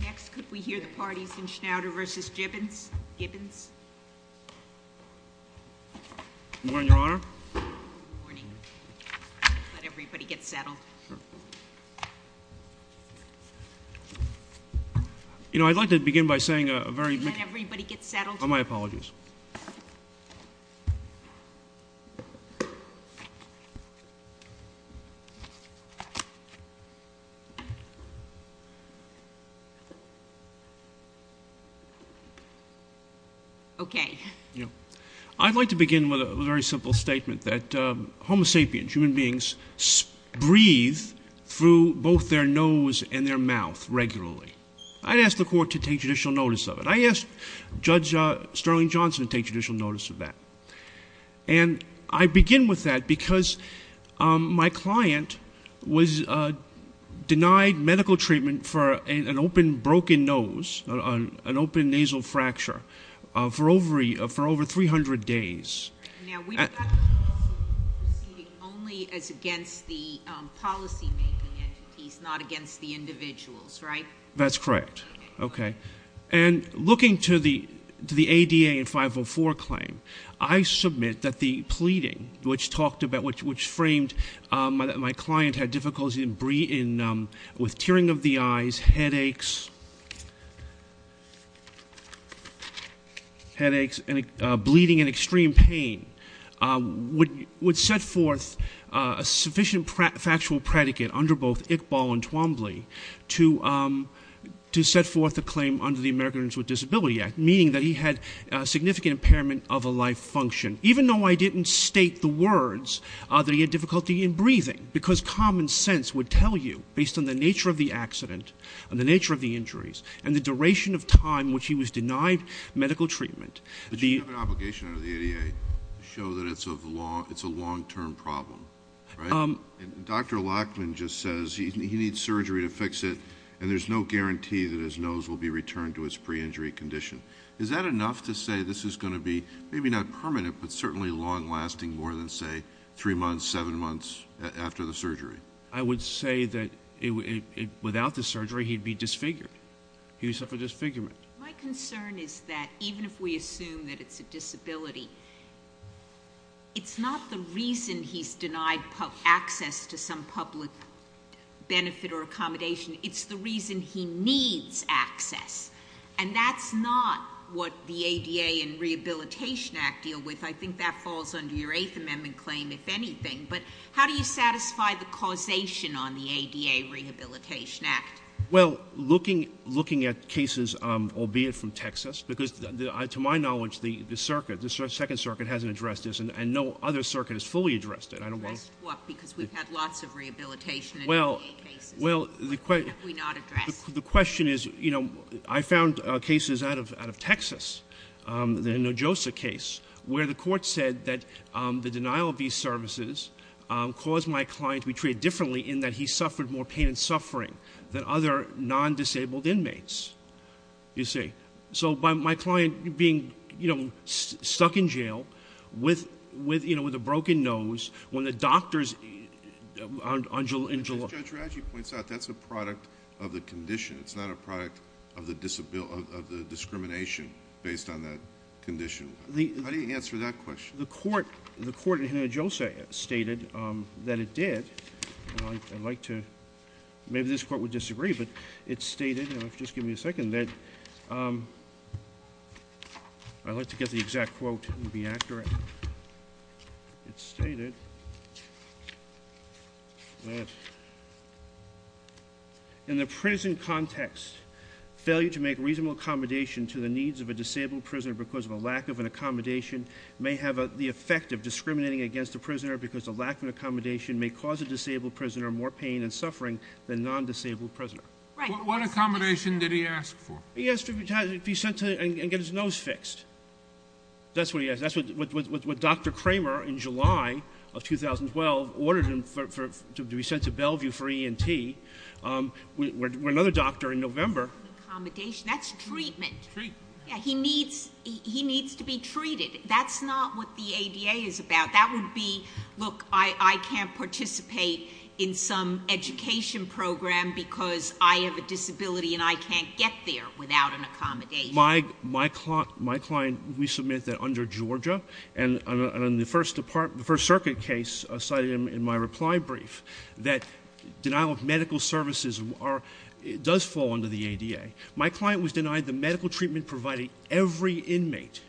Next, could we hear the parties in Schnauder v. Gibens? Good morning, Your Honor. Let everybody get settled. You know, I'd like to begin by saying a very... Let everybody get settled. Oh, my apologies. Okay. Yeah. I'd like to begin with a very simple statement that homo sapiens, human beings, breathe through both their nose and their mouth regularly. I'd ask the court to take judicial notice of it. I asked Judge Sterling Johnson to take judicial notice of that. And I begin with that because my client was denied medical treatment for an open brain fracture, a broken nose, an open nasal fracture, for over 300 days. Now, we've got the policy proceeding only as against the policy-making entities, not against the individuals, right? That's correct. Okay. And looking to the ADA and 504 claim, I submit that the pleading which talked about, which was headaches and bleeding and extreme pain, would set forth a sufficient factual predicate under both Iqbal and Twombly to set forth a claim under the Americans with Disability Act, meaning that he had significant impairment of a life function, even though I didn't state the words that he had difficulty in breathing, because common sense would tell you, based on the nature of the accident and the nature of the injuries and the duration of time in which he was denied medical treatment. But you have an obligation under the ADA to show that it's a long-term problem, right? And Dr. Lachman just says he needs surgery to fix it, and there's no guarantee that his nose will be returned to its pre-injury condition. Is that enough to say this is going to be maybe not permanent, but certainly long-lasting I would say that without the surgery, he'd be disfigured. He would suffer disfigurement. My concern is that even if we assume that it's a disability, it's not the reason he's denied access to some public benefit or accommodation. It's the reason he needs access. And that's not what the ADA and Rehabilitation Act deal with. I think that falls under your Eighth Amendment claim, if anything. But how do you satisfy the causation on the ADA Rehabilitation Act? Well, looking at cases, albeit from Texas, because to my knowledge, the circuit, the Second Circuit hasn't addressed this, and no other circuit has fully addressed it. Because we've had lots of rehabilitation cases that we've not addressed. Well, the question is, I found cases out of Texas, the Nojosa case, where the court said that the denial of these services caused my client to be treated differently in that he suffered more pain and suffering than other non-disabled inmates. You see? So my client being stuck in jail with a broken nose, when the doctors... As Judge Raggi points out, that's a product of the condition. It's not a product of the discrimination based on that condition. How do you answer that question? The court in Nojosa stated that it did. I'd like to... Maybe this court would disagree, but it stated... Just give me a second. I'd like to get the exact quote and be accurate. It stated that... In the prison context, failure to make reasonable accommodation to the needs of a disabled prisoner because of a lack of an accommodation may have the effect of discriminating against a prisoner because a lack of an accommodation may cause a disabled prisoner more pain and suffering than a non-disabled prisoner. What accommodation did he ask for? He asked to be sent and get his nose fixed. That's what he asked. That's what Dr. Kramer, in July of 2012, ordered him to be sent to Bellevue for E&T. We're another doctor in November. That's treatment. He needs to be treated. That's not what the ADA is about. That would be, look, I can't participate in some education program because I have a disability and I can't get there without an accommodation. My client, we submit that under Georgia, and in the First Circuit case, I cited him in my reply brief, that denial of medical services does fall under the ADA. My client was denied the medical treatment provided by every inmate.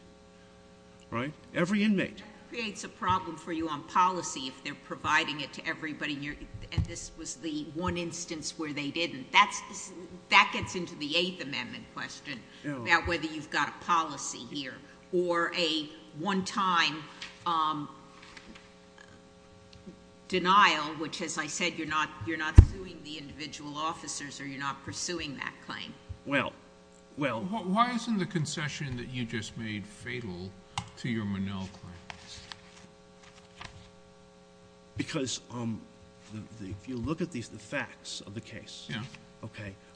Every inmate. That creates a problem for you on policy if they're providing it to everybody and this was the one instance where they didn't. That gets into the Eighth Amendment question about whether you've got a policy here or a one-time denial, which, as I said, you're not suing the individual officers or you're not pursuing that claim. Why isn't the concession that you just made fatal to your Monell claims? Because if you look at the facts of the case,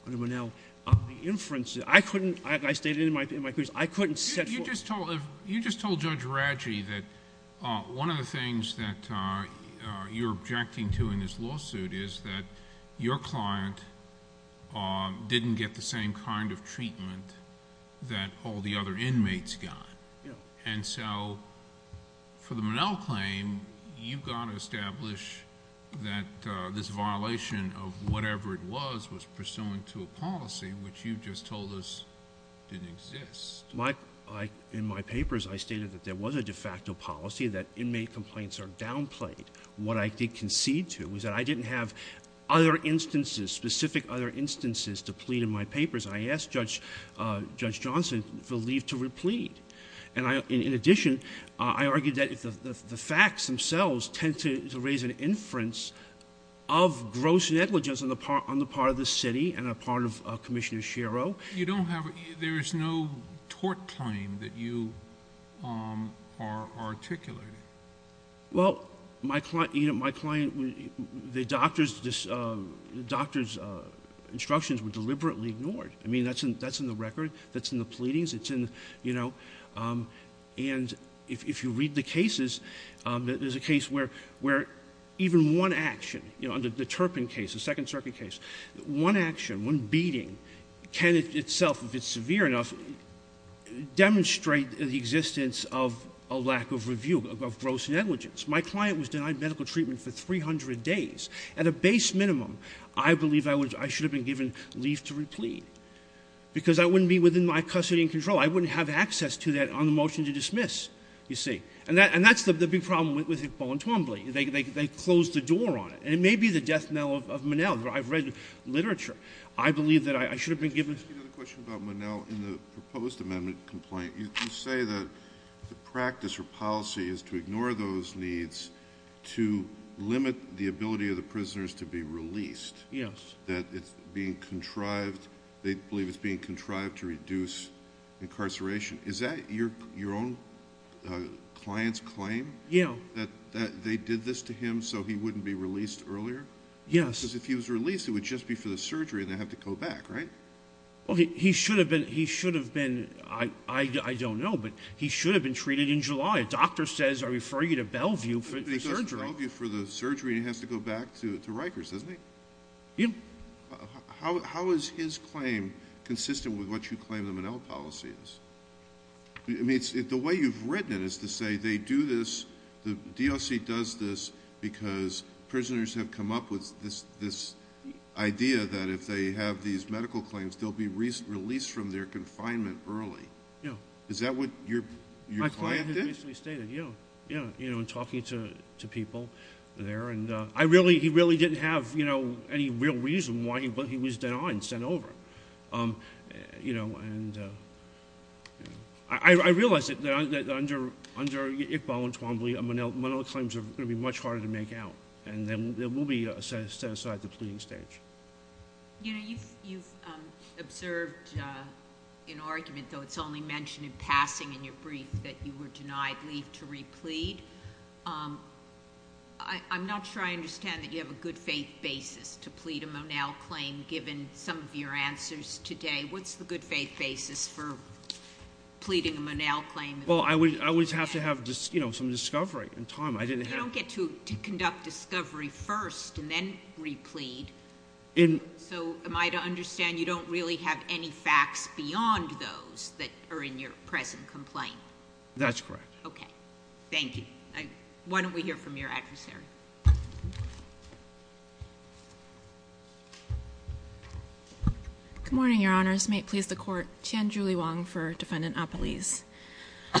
under Monell, the inferences, I couldn't, I stated it in my brief, I couldn't set forth... You just told Judge Raggi that one of the things that you're objecting to in this lawsuit is that your client didn't get the same kind of treatment that all the other inmates got. And so, for the Monell claim, you've got to establish that this violation of whatever it was was pursuant to a policy, which you just told us didn't exist. In my papers, I stated that there was a de facto policy that inmate complaints are downplayed. What I did concede to was that I didn't have other instances, specific other instances, to plead in my papers. I asked Judge Johnson for leave to replead. In addition, I argued that the facts themselves tend to raise an inference of gross negligence on the part of the city and on the part of Commissioner Shero. There is no tort claim that you are articulating. Well, my client... The doctor's instructions were deliberately ignored. I mean, that's in the record. That's in the pleadings. And if you read the cases, there's a case where even one action, the Turpin case, the Second Circuit case, one action, one beating, can itself, if it's severe enough, demonstrate the existence of a lack of review, of gross negligence. My client was denied medical treatment for 300 days. At a base minimum, I believe I should have been given leave to replead because I wouldn't be within my custody and control. I wouldn't have access to that on the motion to dismiss, you see. And that's the big problem with Hick, Ball, and Twombly. They closed the door on it. And it may be the death knell of Monell. I've read literature. I believe that I should have been given... The practice or policy is to ignore those needs to limit the ability of the prisoners to be released. That it's being contrived... they believe it's being contrived to reduce incarceration. Is that your own client's claim, that they did this to him so he wouldn't be released earlier? Because if he was released, it would just be for the surgery and they'd have to He should have been... I don't know, but he should have been treated in July. A doctor says, I refer you to Bellevue for the surgery. He goes to Bellevue for the surgery and he has to go back to Rikers, doesn't he? How is his claim consistent with what you claim the Monell policy is? I mean, the way you've written it is to say they do this the DOC does this because prisoners have come up with this idea that if they have these medical procedures, they can be released after confinement early. Is that what your client did? My client basically stated, yeah, in talking to people there. He really didn't have any real reason why he was denied and sent over. I realize that under Iqbal and Twombly, Monell claims are going to be much harder to make out. They will be set aside at the pleading stage. You've observed an argument, though it's only mentioned in passing in your brief, that you were denied leave to replead. I'm not sure I understand that you have a good faith basis to plead a Monell claim given some of your answers today. What's the good faith basis for pleading a Monell claim? Well, I would have to have some discovery in time. You don't get to conduct discovery first and then replead, so am I to understand you don't really have any facts beyond those that are in your present complaint? That's correct. Okay. Thank you. Why don't we hear from your adversary? Good morning, Your Honors. May it please the Court. Tianjuli Wang for Defendant Apeliz.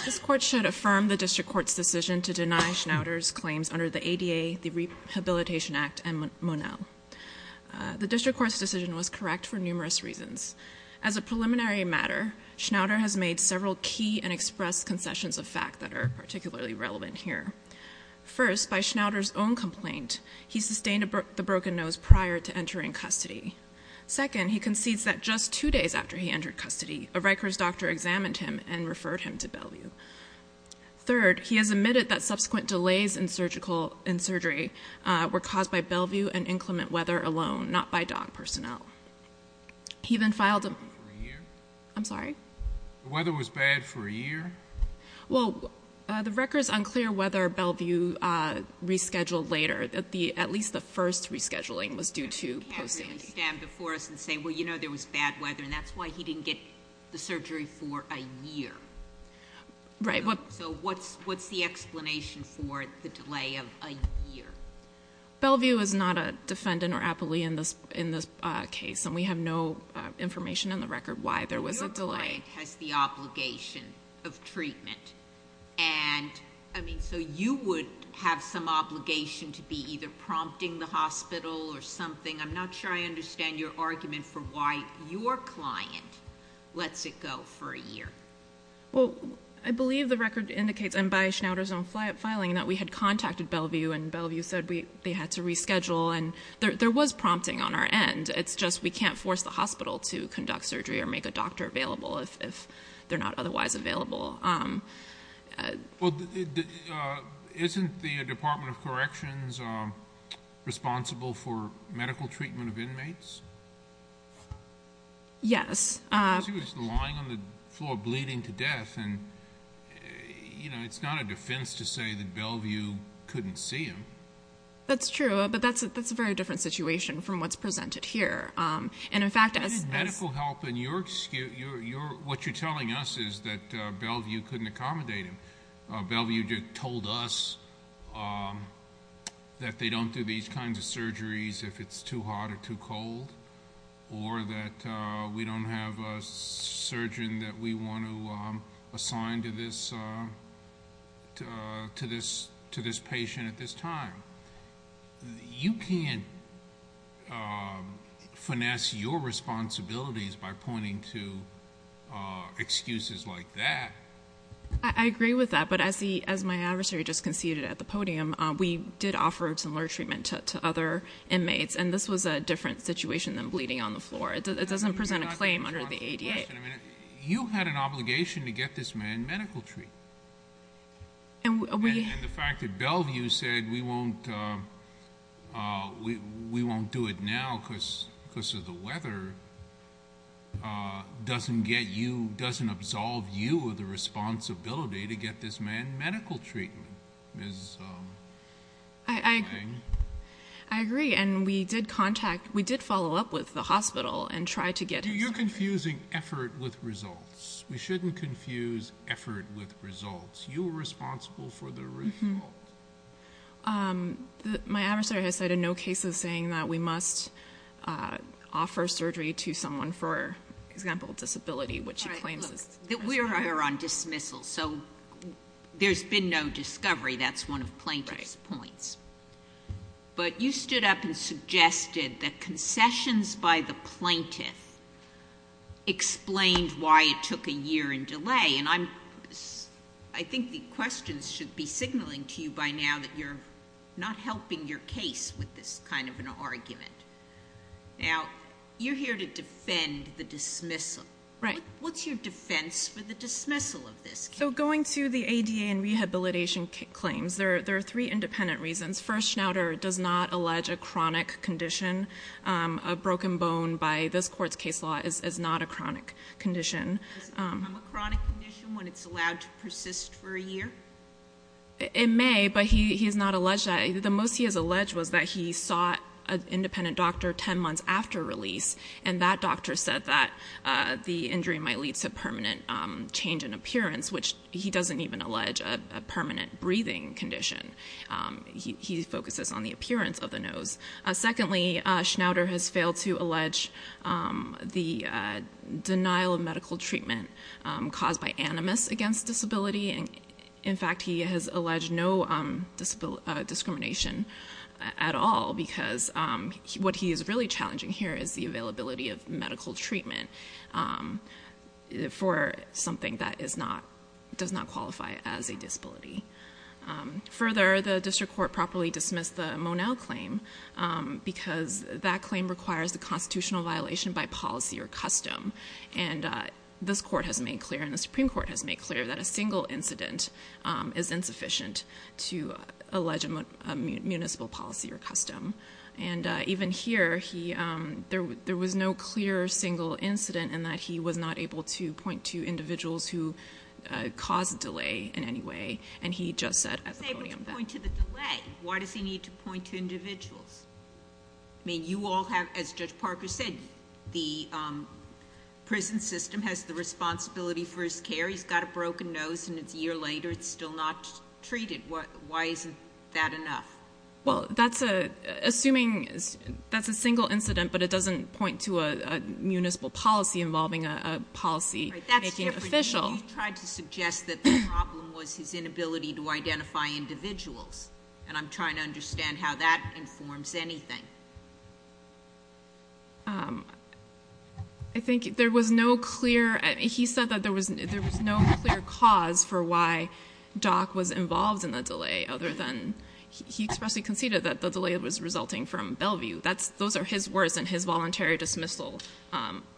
This Court should affirm the District Court's decision to deny Schnauter's claims under the ADA, the Rehabilitation Act, and Monell. The District Court's decision was correct for numerous reasons. As a preliminary matter, Schnauter has made several key and expressed concessions of fact that are particularly relevant here. First, by Schnauter's own complaint, he sustained the broken nose prior to entering custody. Second, he concedes that just two days after he entered custody, a Rikers doctor examined him and referred him to Bellevue. Third, he has admitted that subsequent delays in surgery were caused by Bellevue and inclement weather alone, not by dog personnel. The weather was bad for a year? Well, the Rikers unclear whether Bellevue rescheduled later. At least the first rescheduling was due to post-sanding. Can you stand before us and say, well, you know there was bad weather and that's why he didn't get the surgery for a year? What's the explanation for the delay of a year? Bellevue is not a defendant or appellee in this case and we have no information on the record why there was a delay. Your client has the obligation of treatment. You would have some obligation to be either prompting the hospital or something. I'm not sure I understand your argument for why your client lets it go for a year. Well, I believe the record indicates, and by Schnauter's own filing, that we had contacted Bellevue and Bellevue said they had to reschedule and there was prompting on our end. It's just we can't force the hospital to conduct surgery or make a doctor available if they're not otherwise available. Well, isn't the Department of Corrections responsible for medical treatment of inmates? Yes. Because he was lying on the floor bleeding to death. It's not a defense to say that Bellevue couldn't see him. That's true, but that's a very different situation from what's presented here. He needed medical help and what you're telling us is that Bellevue couldn't accommodate him. Bellevue told us that they don't do these kinds of surgeries if it's too hot or too cold or that we don't have a surgeon that we want to assign to this patient at this time. You can't finesse your responsibilities by pointing to excuses like that. I agree with that, but as my adversary just conceded at the podium, we did offer similar treatment to other inmates and this was a different situation than bleeding on the floor. It doesn't present a claim under the ADA. You had an obligation to get this man medical treatment. And the fact that Bellevue said we won't do it now because of the weather doesn't get you, doesn't absolve you of the responsibility to get this man medical treatment. I agree and we did contact, we did follow up with the hospital and try to get You're confusing effort with results. We shouldn't confuse effort with results. You were responsible for the results. My adversary has said in no case of saying that we must offer surgery to someone for example disability which he claims. We are on dismissal so there's been no discovery. That's one of plaintiff's points. You stood up and suggested that concessions by the plaintiff explained why it took a year in delay. I think the questions should be signaling to you by now that you're not helping your case with this kind of an argument. You're here to defend the dismissal. What's your defense for the dismissal of this case? Going to the ADA and rehabilitation claims, there are three independent reasons. First, Schnauter does not allege a chronic condition. A broken bone by this court's case law is not a chronic condition. Is it a chronic condition when it's allowed to persist for a year? It may but he has not alleged that. The most he has alleged was that he saw an independent doctor 10 months after release and that doctor said that the injury might lead to permanent change in appearance which he doesn't even allege a permanent breathing condition. He focuses on the appearance of the nose. Secondly, Schnauter has failed to allege the denial of medical treatment caused by animus against disability. In fact, he has alleged no discrimination at all because what he is really challenging here is the availability of medical treatment. For something that does not qualify as a disability. Further, the district court properly dismissed the Monell claim because that claim requires a constitutional violation by policy or custom. This court has made clear and the Supreme Court has made clear that a single incident is insufficient to allege a municipal policy or custom. Even here, there was no clear single incident in that he was not able to point to individuals who caused delay in any way and he just said at the podium that. He was able to point to the delay. Why does he need to point to individuals? You all have, as Judge Parker said, the prison system has the responsibility for his care. He's got a broken nose and it's a year later and it's still not treated. Why isn't that enough? Well, that's assuming that's a single incident but it doesn't point to a municipal policy involving a policy official. You've tried to suggest that the problem was his inability to identify individuals and I'm trying to understand how that informs anything. I think there was no clear. He said that there was no clear cause for why Doc was involved in the delay other than he expressly conceded that the delay was resulting from Bellevue. Those are his words in his voluntary dismissal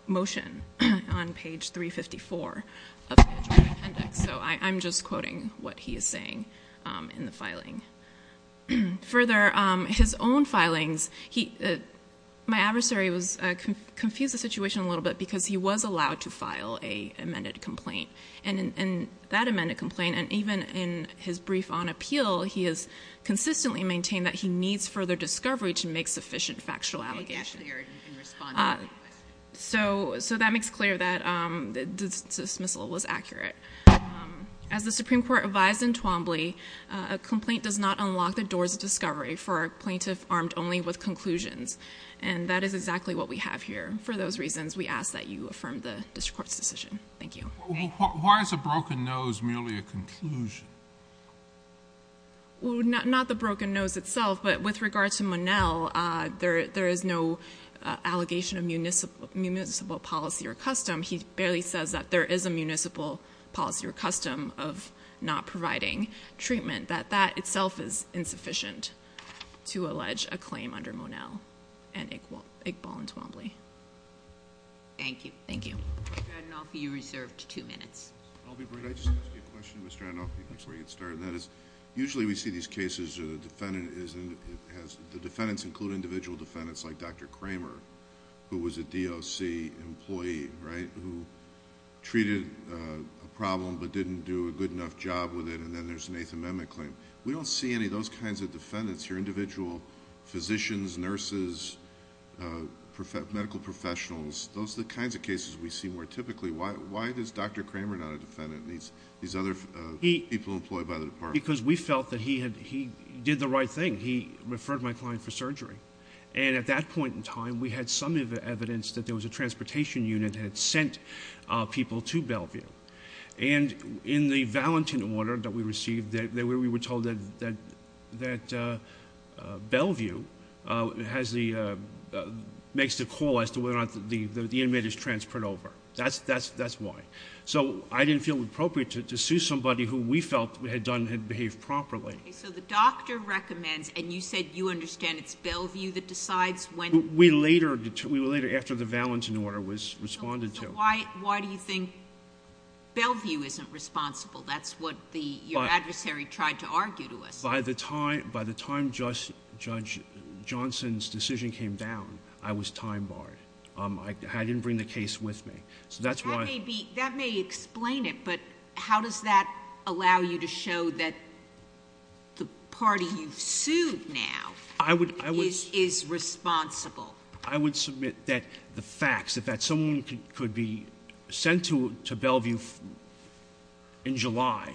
motion on page 354 of the appendix. I'm just quoting what he is saying in the filing. Further, his own filings, my adversary confused the situation a little bit because he was allowed to file an amended complaint and that amended complaint and even in his brief on appeal, he has consistently maintained that he needs further discovery to make sufficient factual allegations. So that makes clear that dismissal was accurate. As the Supreme Court advised in Twombly, a complaint does not unlock the doors of discovery for a plaintiff armed only with conclusions and that is exactly what we have here. For those reasons, we ask that you affirm the district court's decision. Thank you. Why is a broken nose merely a conclusion? Not the broken nose itself, but with regard to Monell, there is no allegation of municipal policy or custom. He barely says that there is a municipal policy or custom of not providing treatment. That itself is insufficient to allege a claim under Monell and Iqbal in Twombly. Thank you. Mr. Adenoff, you're reserved two minutes. Could I just ask you a question, Mr. Adenoff, before you get started? Usually we see these cases, the defendants include individual defendants like Dr. Kramer, who was a DOC employee, who treated a problem but didn't do a good enough job with it and then there's an Eighth Amendment claim. We don't see any of those kinds of defendants here, individual physicians, nurses, medical professionals. Those are the kinds of cases we see more typically. Why is Dr. Kramer not a defendant and these other people employed by the department? Because we felt that he did the right thing. He referred my client for surgery and at that point in time, we had some evidence that there was a transportation unit that had sent people to Bellevue and in the valentine order that we received, we were told that Bellevue makes the call as to whether or not the inmate is transferred over. That's why. So I didn't feel it appropriate to sue somebody who we felt had done, had behaved properly. So the doctor recommends, and you said you understand it's Bellevue that decides when? We later, after the valentine order was responded to. So why do you think Bellevue isn't responsible? That's what your adversary tried to argue to us. By the time Judge Johnson's decision came down, I was time barred. I didn't bring the case with me. That may explain it, but how does that allow you to show that the party you've sued now is responsible? I would submit that the facts, that someone could be sent to Bellevue in July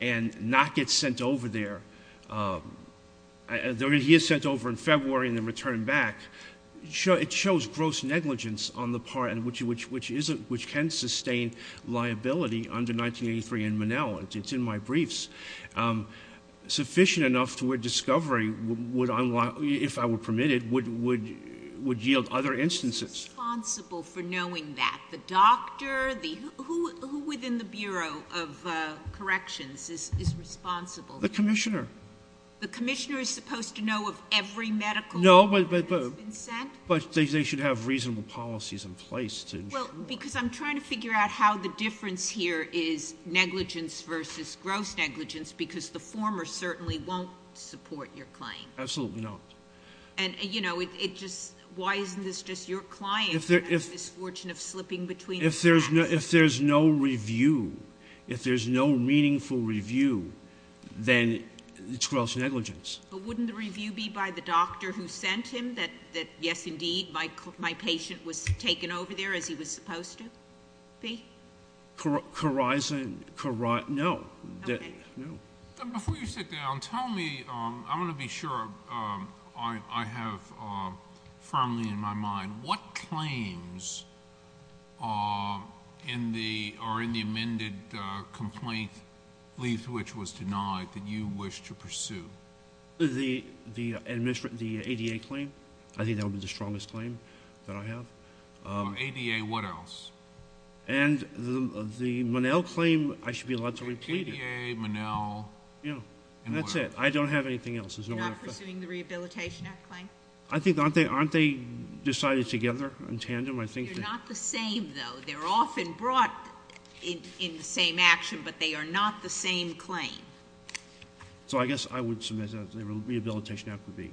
and not get sent over there. He is sent over in February and then returned back. It shows gross negligence on the part, which can sustain liability under 1983 in Monell. It's in my briefs. Sufficient enough to where discovery would if I were permitted, would yield other instances. Who's responsible for knowing that? The doctor? Who within the Bureau of Corrections is responsible? The commissioner. The commissioner is supposed to know of every medical order that's been sent? No, but they should have reasonable policies in place. Because I'm trying to figure out how the difference here is negligence versus gross negligence because the former certainly won't support your claim. Absolutely not. Why isn't this just your client If there's no review, if there's no meaningful review, then it's gross negligence. But wouldn't the review be by the doctor who sent him that, yes indeed, my patient was taken over there as he was supposed to be? No. Before you sit down, tell me I want to be sure I have firmly in my mind, what claims are in the amended complaint which was denied that you wish to pursue? The ADA claim. I think that would be the strongest claim that I have. For ADA, what else? The Monell claim, I should be allowed to replete it. That's it. I don't have anything else. Not pursuing the Rehabilitation Act I think aren't they decided together in tandem? They're not the same though. They're often brought in the same action, but they are not the same claim. So I guess I would submit that the Rehabilitation Act would be.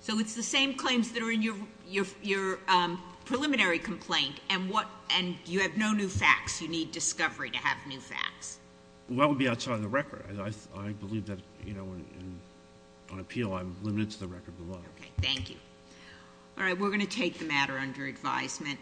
So it's the same claims that are in your preliminary complaint and you have no new facts. You need discovery to have new facts. That would be outside of the record. I believe that on appeal, I'm limited to the record below. Thank you. We're going to take the matter under advisement.